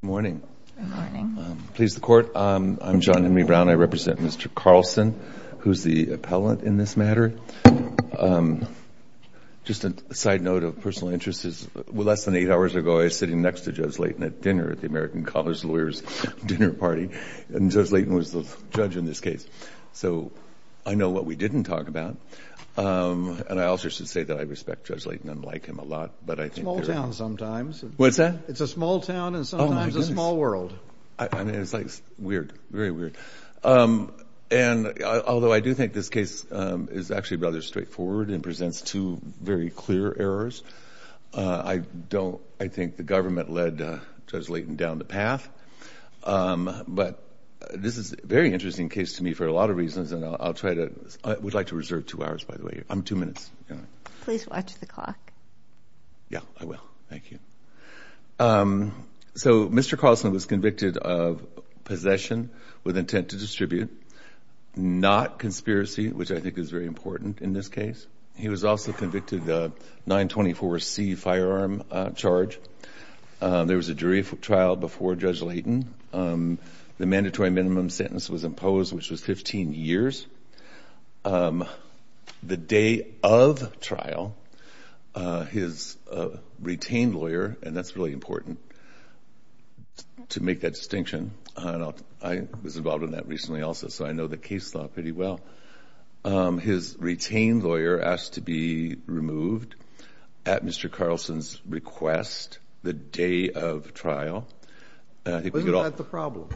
Good morning. Good morning. Please, the Court, I'm John Henry Brown. I represent Mr. Carlson, who's the appellant in this matter. Just a side note of personal interest is, less than eight hours ago I was sitting next to Judge Layton at dinner at the American College Lawyers' Dinner Party, and Judge Layton was the judge in this case. So I know what we didn't talk about, and I also should say that I respect Judge Layton and like him a lot. It's a small town sometimes. What's that? It's a small town and sometimes a small world. Oh, my goodness. I mean, it's like weird, very weird. And although I do think this case is actually rather straightforward and presents two very clear errors, I don't – I think the government led Judge Layton down the path. But this is a very interesting case to me for a lot of reasons, and I'll try to – I would like to reserve two hours, by the way. Two minutes. Please watch the clock. Yeah, I will. Thank you. So Mr. Colson was convicted of possession with intent to distribute, not conspiracy, which I think is very important in this case. He was also convicted of 924C firearm charge. There was a jury trial before Judge Layton. The mandatory minimum sentence was imposed, which was 15 years. The day of trial, his retained lawyer – and that's really important to make that distinction. I was involved in that recently also, so I know the case law pretty well. His retained lawyer asked to be removed at Mr. Carlson's request the day of trial. Wasn't that the problem?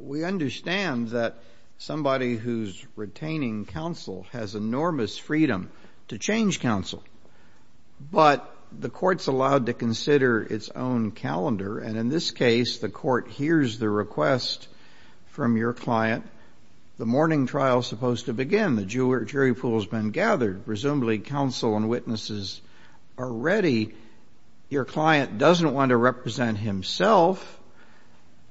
We understand that somebody who's retaining counsel has enormous freedom to change counsel, but the court's allowed to consider its own calendar, and in this case the court hears the request from your client. The morning trial is supposed to begin. The jury pool has been gathered. Presumably counsel and witnesses are ready. Your client doesn't want to represent himself,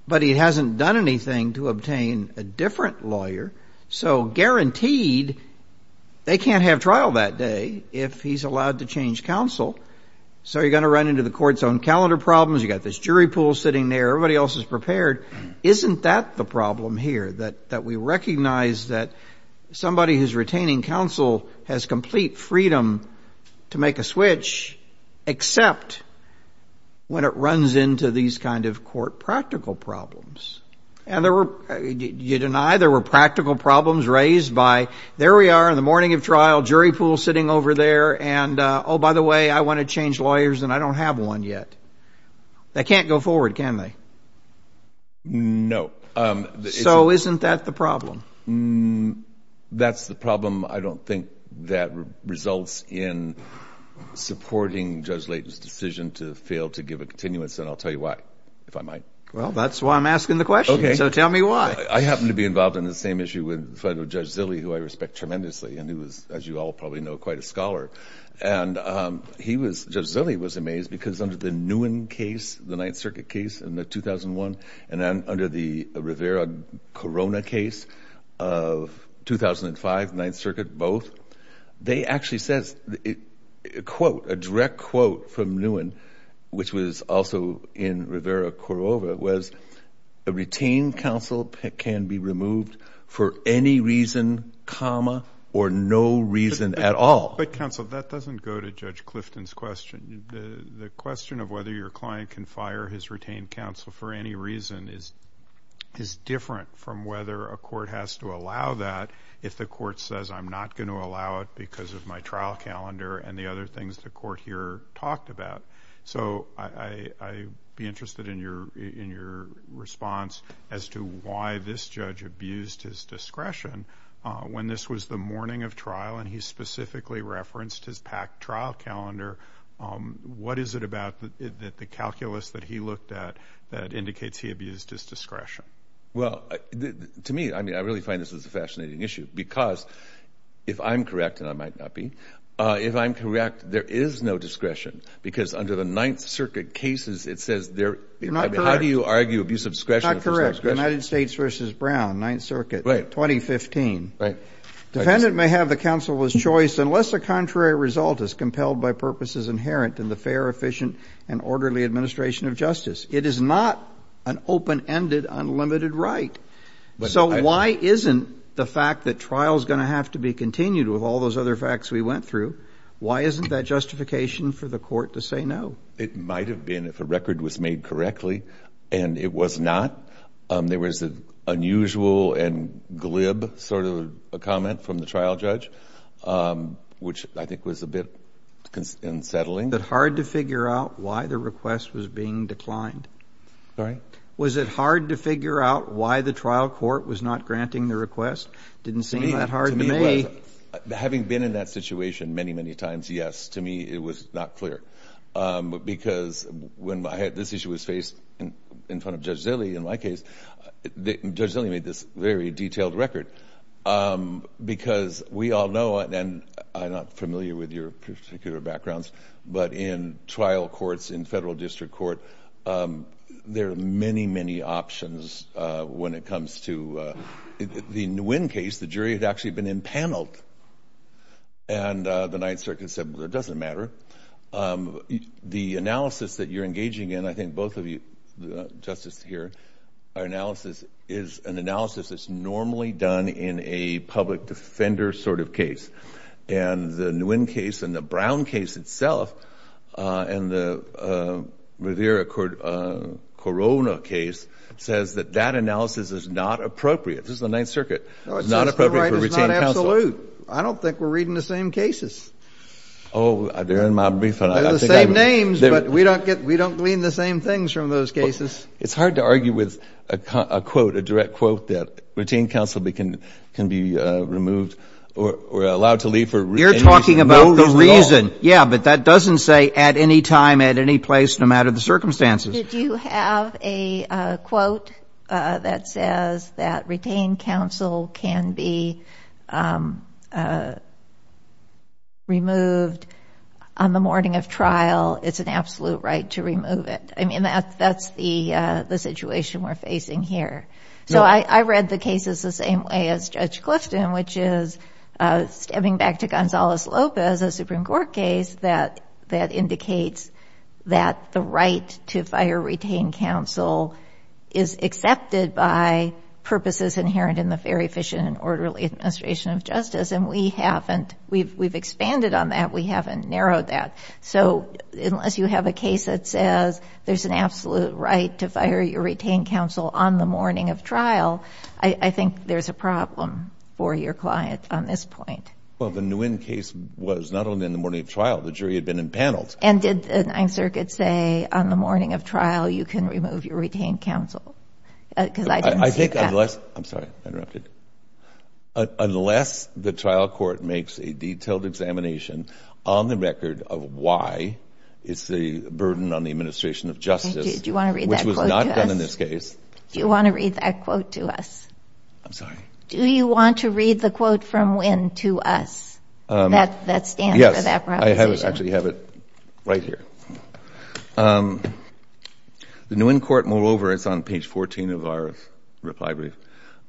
but he hasn't done anything to obtain a different lawyer, so guaranteed they can't have trial that day if he's allowed to change counsel. So you're going to run into the court's own calendar problems. You've got this jury pool sitting there. Everybody else is prepared. Isn't that the problem here, that we recognize that somebody who's retaining counsel has complete freedom to make a switch, except when it runs into these kind of court practical problems? You deny there were practical problems raised by, there we are in the morning of trial, jury pool sitting over there, and, oh, by the way, I want to change lawyers and I don't have one yet. They can't go forward, can they? No. So isn't that the problem? That's the problem. I don't think that results in supporting Judge Layton's decision to fail to give a continuance, and I'll tell you why, if I might. Well, that's why I'm asking the question, so tell me why. I happen to be involved in the same issue with Judge Zille, who I respect tremendously, and who is, as you all probably know, quite a scholar. And Judge Zille was amazed because under the Nguyen case, the Ninth Circuit case in 2001, and then under the Rivera-Corona case of 2005, the Ninth Circuit, both, they actually said, quote, a direct quote from Nguyen, which was also in Rivera-Corona, was a retained counsel can be removed for any reason, comma, or no reason at all. But, counsel, that doesn't go to Judge Clifton's question. The question of whether your client can fire his retained counsel for any reason is different from whether a court has to allow that if the court says, I'm not going to allow it because of my trial calendar and the other things the court here talked about. So I'd be interested in your response as to why this judge abused his discretion when this was the morning of trial and he specifically referenced his packed trial calendar. What is it about the calculus that he looked at that indicates he abused his discretion? Well, to me, I mean, I really find this is a fascinating issue because if I'm correct, and I might not be, if I'm correct, there is no discretion because under the Ninth Circuit cases, it says there – I'm not correct. How do you argue abuse of discretion if there's no discretion? United States v. Brown, Ninth Circuit, 2015. Right. Defendant may have the counsel of his choice unless the contrary result is compelled by purposes inherent in the fair, efficient, and orderly administration of justice. It is not an open-ended, unlimited right. So why isn't the fact that trial is going to have to be continued with all those other facts we went through, why isn't that justification for the court to say no? It might have been if a record was made correctly, and it was not. There was an unusual and glib sort of comment from the trial judge, which I think was a bit unsettling. Was it hard to figure out why the request was being declined? Sorry? Was it hard to figure out why the trial court was not granting the request? It didn't seem that hard to me. To me, it was. Having been in that situation many, many times, yes. To me, it was not clear because when I had – in front of Judge Zille in my case, Judge Zille made this very detailed record because we all know, and I'm not familiar with your particular backgrounds, but in trial courts, in federal district court, there are many, many options when it comes to – the Nguyen case, the jury had actually been impaneled, and the Ninth Circuit said, well, it doesn't matter. The analysis that you're engaging in, I think both of you, Justice, here, our analysis is an analysis that's normally done in a public defender sort of case, and the Nguyen case and the Brown case itself and the Rivera-Corona case says that that analysis is not appropriate. This is the Ninth Circuit. It's not appropriate for retained counsel. I don't think we're reading the same cases. Oh, they're in my brief, but I think I'm – They're the same names, but we don't get – we don't glean the same things from those cases. It's hard to argue with a quote, a direct quote, that retained counsel can be removed or allowed to leave for no reason at all. You're talking about the reason. Yeah, but that doesn't say at any time, at any place, no matter the circumstances. Did you have a quote that says that retained counsel can be removed on the morning of trial? It's an absolute right to remove it. I mean, that's the situation we're facing here. So I read the cases the same way as Judge Clifton, which is stepping back to Gonzalez-Lopez, a Supreme Court case, that indicates that the right to fire retained counsel is accepted by purposes inherent in the very efficient and orderly administration of justice, and we haven't – we've expanded on that. We haven't narrowed that. So unless you have a case that says there's an absolute right to fire your retained counsel on the morning of trial, I think there's a problem for your client on this point. Well, the Nguyen case was not only on the morning of trial. The jury had been impaneled. And did the Ninth Circuit say on the morning of trial you can remove your retained counsel? Because I didn't see that. I think unless – I'm sorry, I interrupted. Unless the trial court makes a detailed examination on the record of why it's a burden on the administration of justice. Do you want to read that quote to us? Which was not done in this case. Do you want to read that quote to us? I'm sorry? Do you want to read the quote from Nguyen to us that stands for that proposition? Yes. I actually have it right here. The Nguyen court, moreover – it's on page 14 of our reply brief.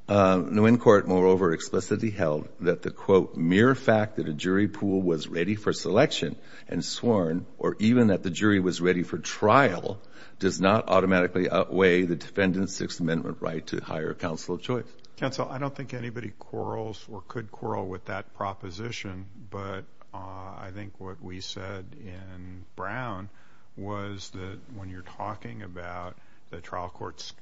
Nguyen court, moreover, explicitly held that the, quote, mere fact that a jury pool was ready for selection and sworn or even that the jury was ready for trial does not automatically outweigh the defendant's Sixth Amendment right to hire a counsel of choice. Counsel, I don't think anybody quarrels or could quarrel with that proposition. But I think what we said in Brown was that when you're talking about the trial court's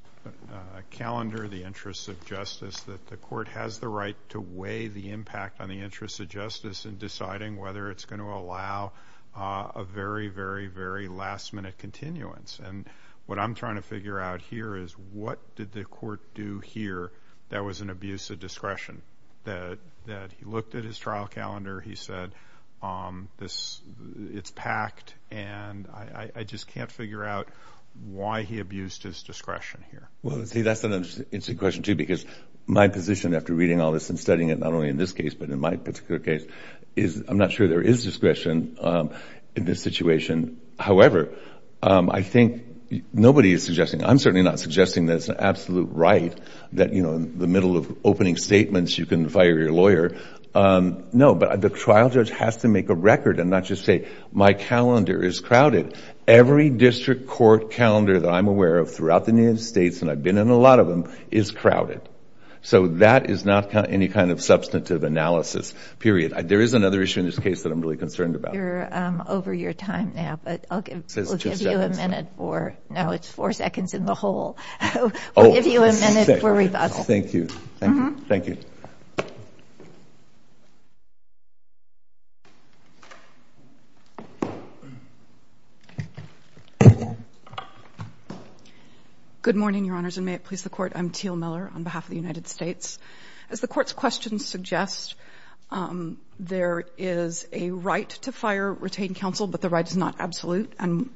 calendar, the interests of justice, that the court has the right to weigh the impact on the interests of justice in deciding whether it's going to allow a very, very, very last-minute continuance. And what I'm trying to figure out here is what did the court do here that was an abuse of discretion, that he looked at his trial calendar, he said it's packed, and I just can't figure out why he abused his discretion here. Well, see, that's an interesting question, too, because my position after reading all this and studying it not only in this case but in my particular case is I'm not sure there is discretion in this situation. However, I think nobody is suggesting, I'm certainly not suggesting that it's an absolute right that, you know, in the middle of opening statements you can fire your lawyer. No, but the trial judge has to make a record and not just say my calendar is crowded. Every district court calendar that I'm aware of throughout the United States, and I've been in a lot of them, is crowded. So that is not any kind of substantive analysis, period. There is another issue in this case that I'm really concerned about. I know you're over your time now, but we'll give you a minute for no, it's four seconds in the hole. We'll give you a minute for rebuttal. Thank you. Thank you. Good morning, Your Honors, and may it please the Court. I'm Teal Miller on behalf of the United States. As the Court's questions suggest, there is a right to fire retained counsel, but the right is not absolute. And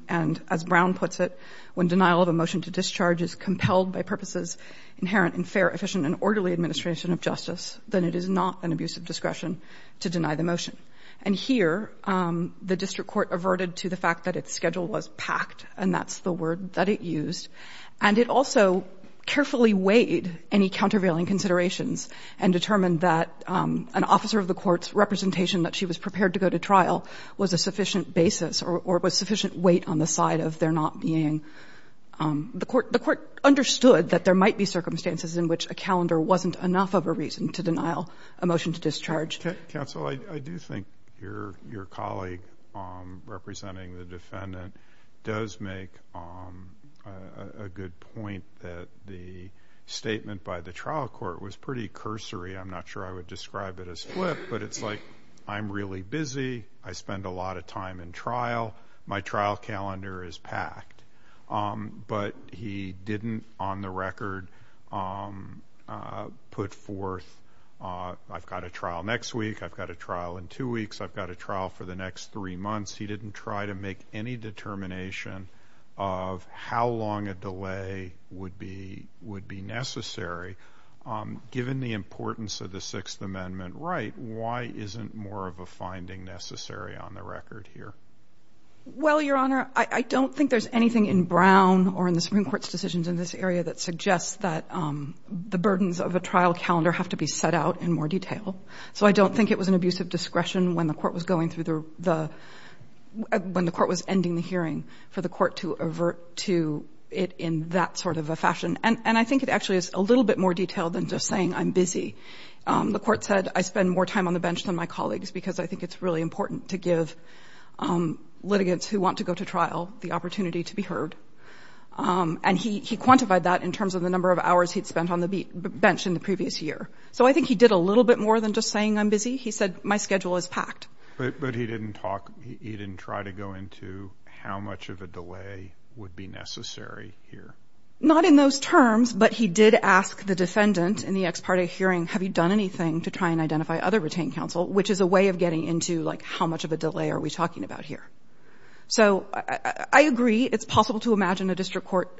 as Brown puts it, when denial of a motion to discharge is compelled by purposes inherent in fair, efficient, and orderly administration of justice, then it is not an abuse of discretion to deny the motion. And here the district court averted to the fact that its schedule was packed, and that's the word that it used. And it also carefully weighed any countervailing considerations and determined that an officer of the court's representation that she was prepared to go to trial was a sufficient basis or was sufficient weight on the side of there not being the court. The court understood that there might be circumstances in which a calendar wasn't enough of a reason to denial a motion to discharge. Counsel, I do think your colleague representing the defendant does make a good point that the statement by the trial court was pretty cursory. I'm not sure I would describe it as flip, but it's like, I'm really busy. I spend a lot of time in trial. My trial calendar is packed. But he didn't, on the record, put forth, I've got a trial next week, I've got a trial in two weeks, I've got a trial for the next three months. He didn't try to make any determination of how long a delay would be necessary. Given the importance of the Sixth Amendment right, why isn't more of a finding necessary on the record here? Well, Your Honor, I don't think there's anything in Brown or in the Supreme Court's decisions in this area that suggests that the burdens of a trial calendar have to be set out in more detail. So I don't think it was an abuse of discretion when the court was going through the, when the court was ending the hearing for the court to avert to it in that sort of a fashion. And I think it actually is a little bit more detailed than just saying I'm busy. The court said I spend more time on the bench than my colleagues because I think it's really important to give litigants who want to go to trial the opportunity to be heard. And he quantified that in terms of the number of hours he'd spent on the bench in the previous year. So I think he did a little bit more than just saying I'm busy. He said my schedule is packed. But he didn't talk, he didn't try to go into how much of a delay would be necessary here. Not in those terms, but he did ask the defendant in the ex parte hearing, have you done anything to try and identify other retained counsel, which is a way of getting into like how much of a delay are we talking about here. So I agree, it's possible to imagine a district court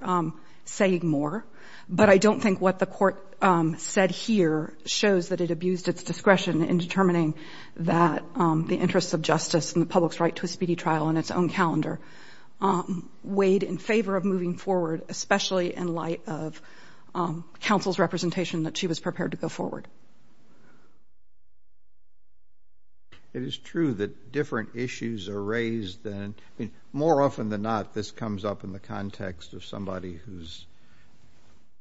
saying more, but I don't think what the court said here shows that it abused its discretion in determining that the interests of justice and the public's right to a speedy trial in its own calendar weighed in favor of moving forward, especially in light of counsel's representation that she was prepared to go forward. It is true that different issues are raised. More often than not, this comes up in the context of somebody who's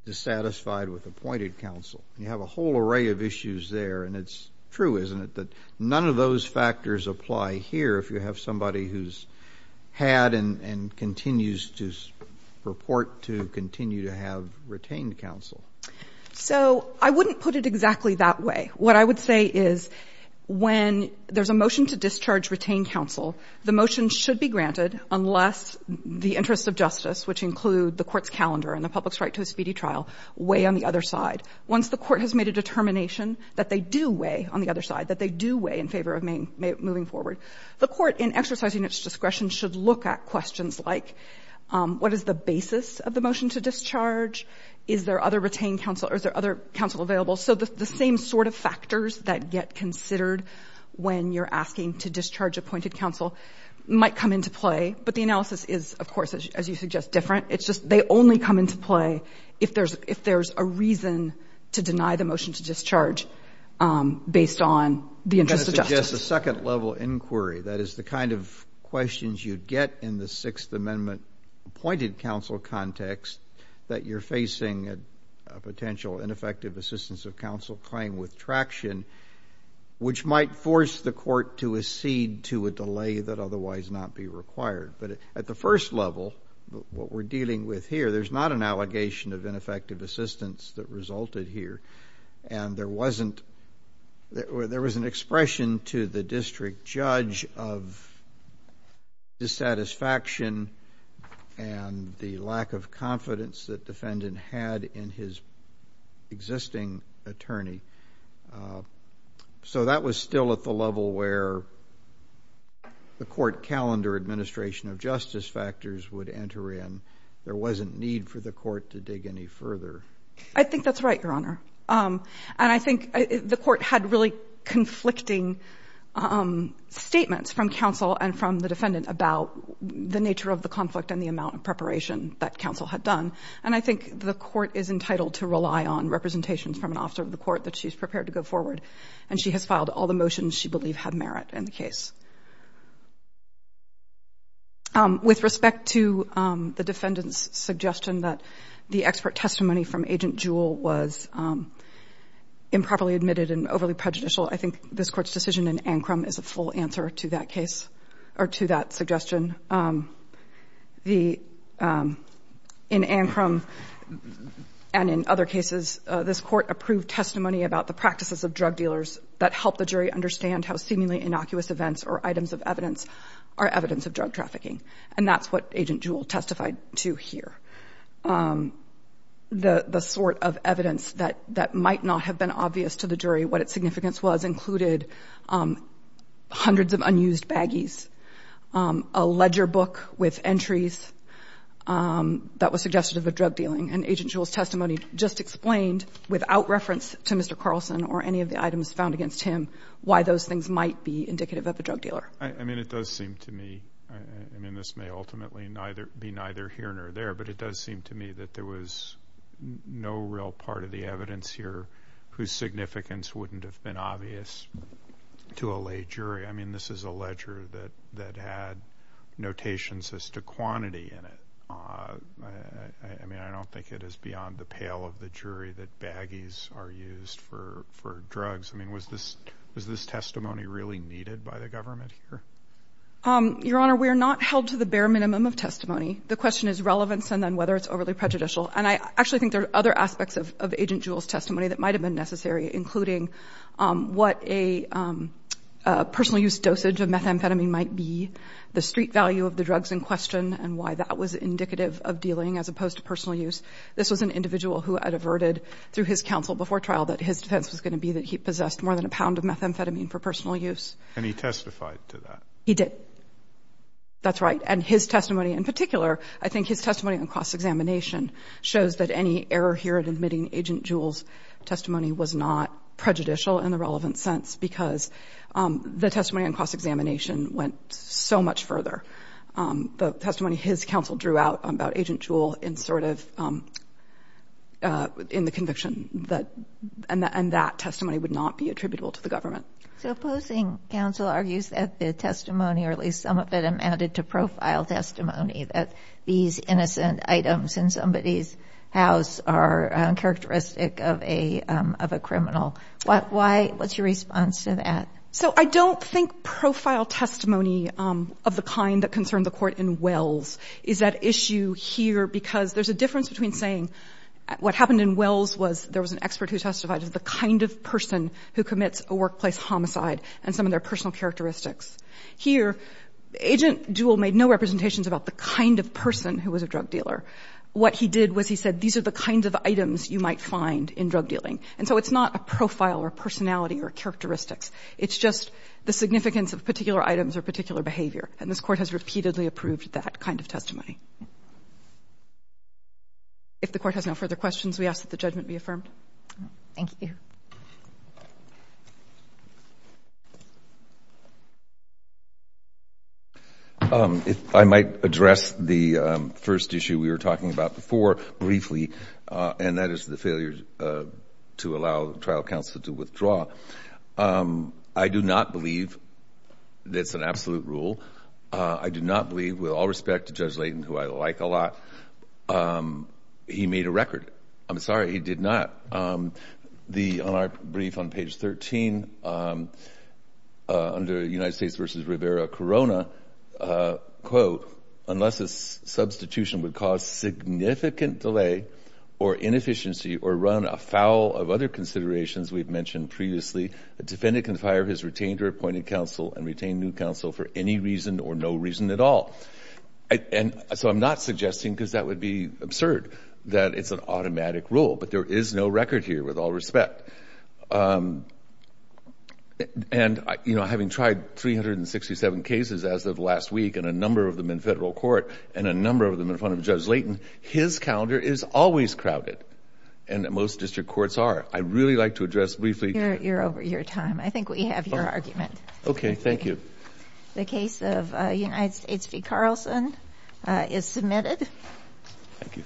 dissatisfied with appointed counsel. You have a whole array of issues there, and it's true, isn't it, that none of those factors apply here if you have somebody who's had and continues to report to continue to have retained counsel? So I wouldn't put it exactly that way. What I would say is when there's a motion to discharge retained counsel, the motion should be granted unless the interests of justice, which include the court's calendar and the public's right to a speedy trial, weigh on the other side. Once the court has made a determination that they do weigh on the other side, that they do weigh in favor of moving forward, the court in exercising its discretion should look at questions like, what is the basis of the motion to discharge? Is there other counsel available? So the same sort of factors that get considered when you're asking to discharge appointed counsel might come into play, but the analysis is, of course, as you suggest, different. It's just they only come into play if there's a reason to deny the motion to discharge based on the interests of justice. I'm going to suggest a second-level inquiry, that is the kind of questions you'd get in the Sixth Amendment appointed counsel context, that you're facing a potential ineffective assistance of counsel claim with traction, which might force the court to accede to a delay that otherwise not be required. But at the first level, what we're dealing with here, there's not an allegation of ineffective assistance that resulted here, and there was an expression to the district judge of dissatisfaction and the lack of confidence that the defendant had in his existing attorney. So that was still at the level where the court calendar administration of justice factors would enter in. There wasn't need for the court to dig any further. I think that's right, Your Honor. And I think the court had really conflicting statements from counsel and from the defendant about the nature of the conflict and the amount of preparation that counsel had done. And I think the court is entitled to rely on representations from an officer of the court that she's prepared to go forward. And she has filed all the motions she believed had merit in the case. With respect to the defendant's suggestion that the expert testimony from Agent Jewell was improperly admitted and overly prejudicial, I think this Court's decision in Ancrum is a full answer to that case, or to that suggestion. In Ancrum and in other cases, this Court approved testimony about the practices of drug dealers that helped the jury understand how seemingly innocuous events or items of evidence are evidence of drug trafficking. And that's what Agent Jewell testified to here. The sort of evidence that might not have been obvious to the jury, what its significance was, included hundreds of unused baggies, a ledger book with entries that was suggestive of drug dealing. And Agent Jewell's testimony just explained, without reference to Mr. Carlson or any of the items found against him, why those things might be indicative of a drug dealer. I mean, it does seem to me, I mean, this may ultimately be neither here nor there, but it does seem to me that there was no real part of the evidence here whose significance wouldn't have been obvious to a lay jury. I mean, this is a ledger that had notations as to quantity in it. I mean, I don't think it is beyond the pale of the jury that baggies are used for drugs. I mean, was this testimony really needed by the government here? Your Honor, we are not held to the bare minimum of testimony. The question is relevance and then whether it's overly prejudicial. And I actually think there are other aspects of Agent Jewell's testimony that show what a personal use dosage of methamphetamine might be, the street value of the drugs in question, and why that was indicative of dealing as opposed to personal use. This was an individual who adverted through his counsel before trial that his defense was going to be that he possessed more than a pound of methamphetamine for personal use. And he testified to that? He did. That's right. And his testimony in particular, I think his testimony on cross-examination shows that any error here in admitting Agent Jewell's testimony was not prejudicial in the relevant sense because the testimony on cross-examination went so much further. The testimony his counsel drew out about Agent Jewell in sort of, in the conviction, and that testimony would not be attributable to the government. So opposing counsel argues that the testimony, or at least some of it, amounted to profile testimony, that these innocent items in somebody's house are characteristic of a criminal. What's your response to that? So I don't think profile testimony of the kind that concerned the court in Wells is at issue here because there's a difference between saying what happened in Wells was there was an expert who testified as the kind of person who commits a workplace homicide and some of their personal characteristics. Here, Agent Jewell made no representations about the kind of person who was a drug dealer. What he did was he said these are the kinds of items you might find in drug dealing. And so it's not a profile or personality or characteristics. It's just the significance of particular items or particular behavior. And this Court has repeatedly approved that kind of testimony. If the Court has no further questions, we ask that the judgment be affirmed. Thank you. I might address the first issue we were talking about before briefly, and that is the failure to allow trial counsel to withdraw. I do not believe that's an absolute rule. I do not believe, with all respect to Judge Layton, who I like a lot, he made a record. I'm sorry, he did not. On our brief on page 13, under United States v. Rivera-Corona, quote, unless a substitution would cause significant delay or inefficiency or run afoul of other considerations we've mentioned previously, a defendant can fire his retained or appointed counsel and retain new counsel for any reason or no reason at all. And so I'm not suggesting, because that would be absurd, that it's an automatic rule. But there is no record here, with all respect. And, you know, having tried 367 cases as of last week and a number of them in federal court and a number of them in front of Judge Layton, his calendar is always crowded and most district courts are. I'd really like to address briefly. You're over your time. I think we have your argument. Okay, thank you. The case of United States v. Carlson is submitted. Thank you.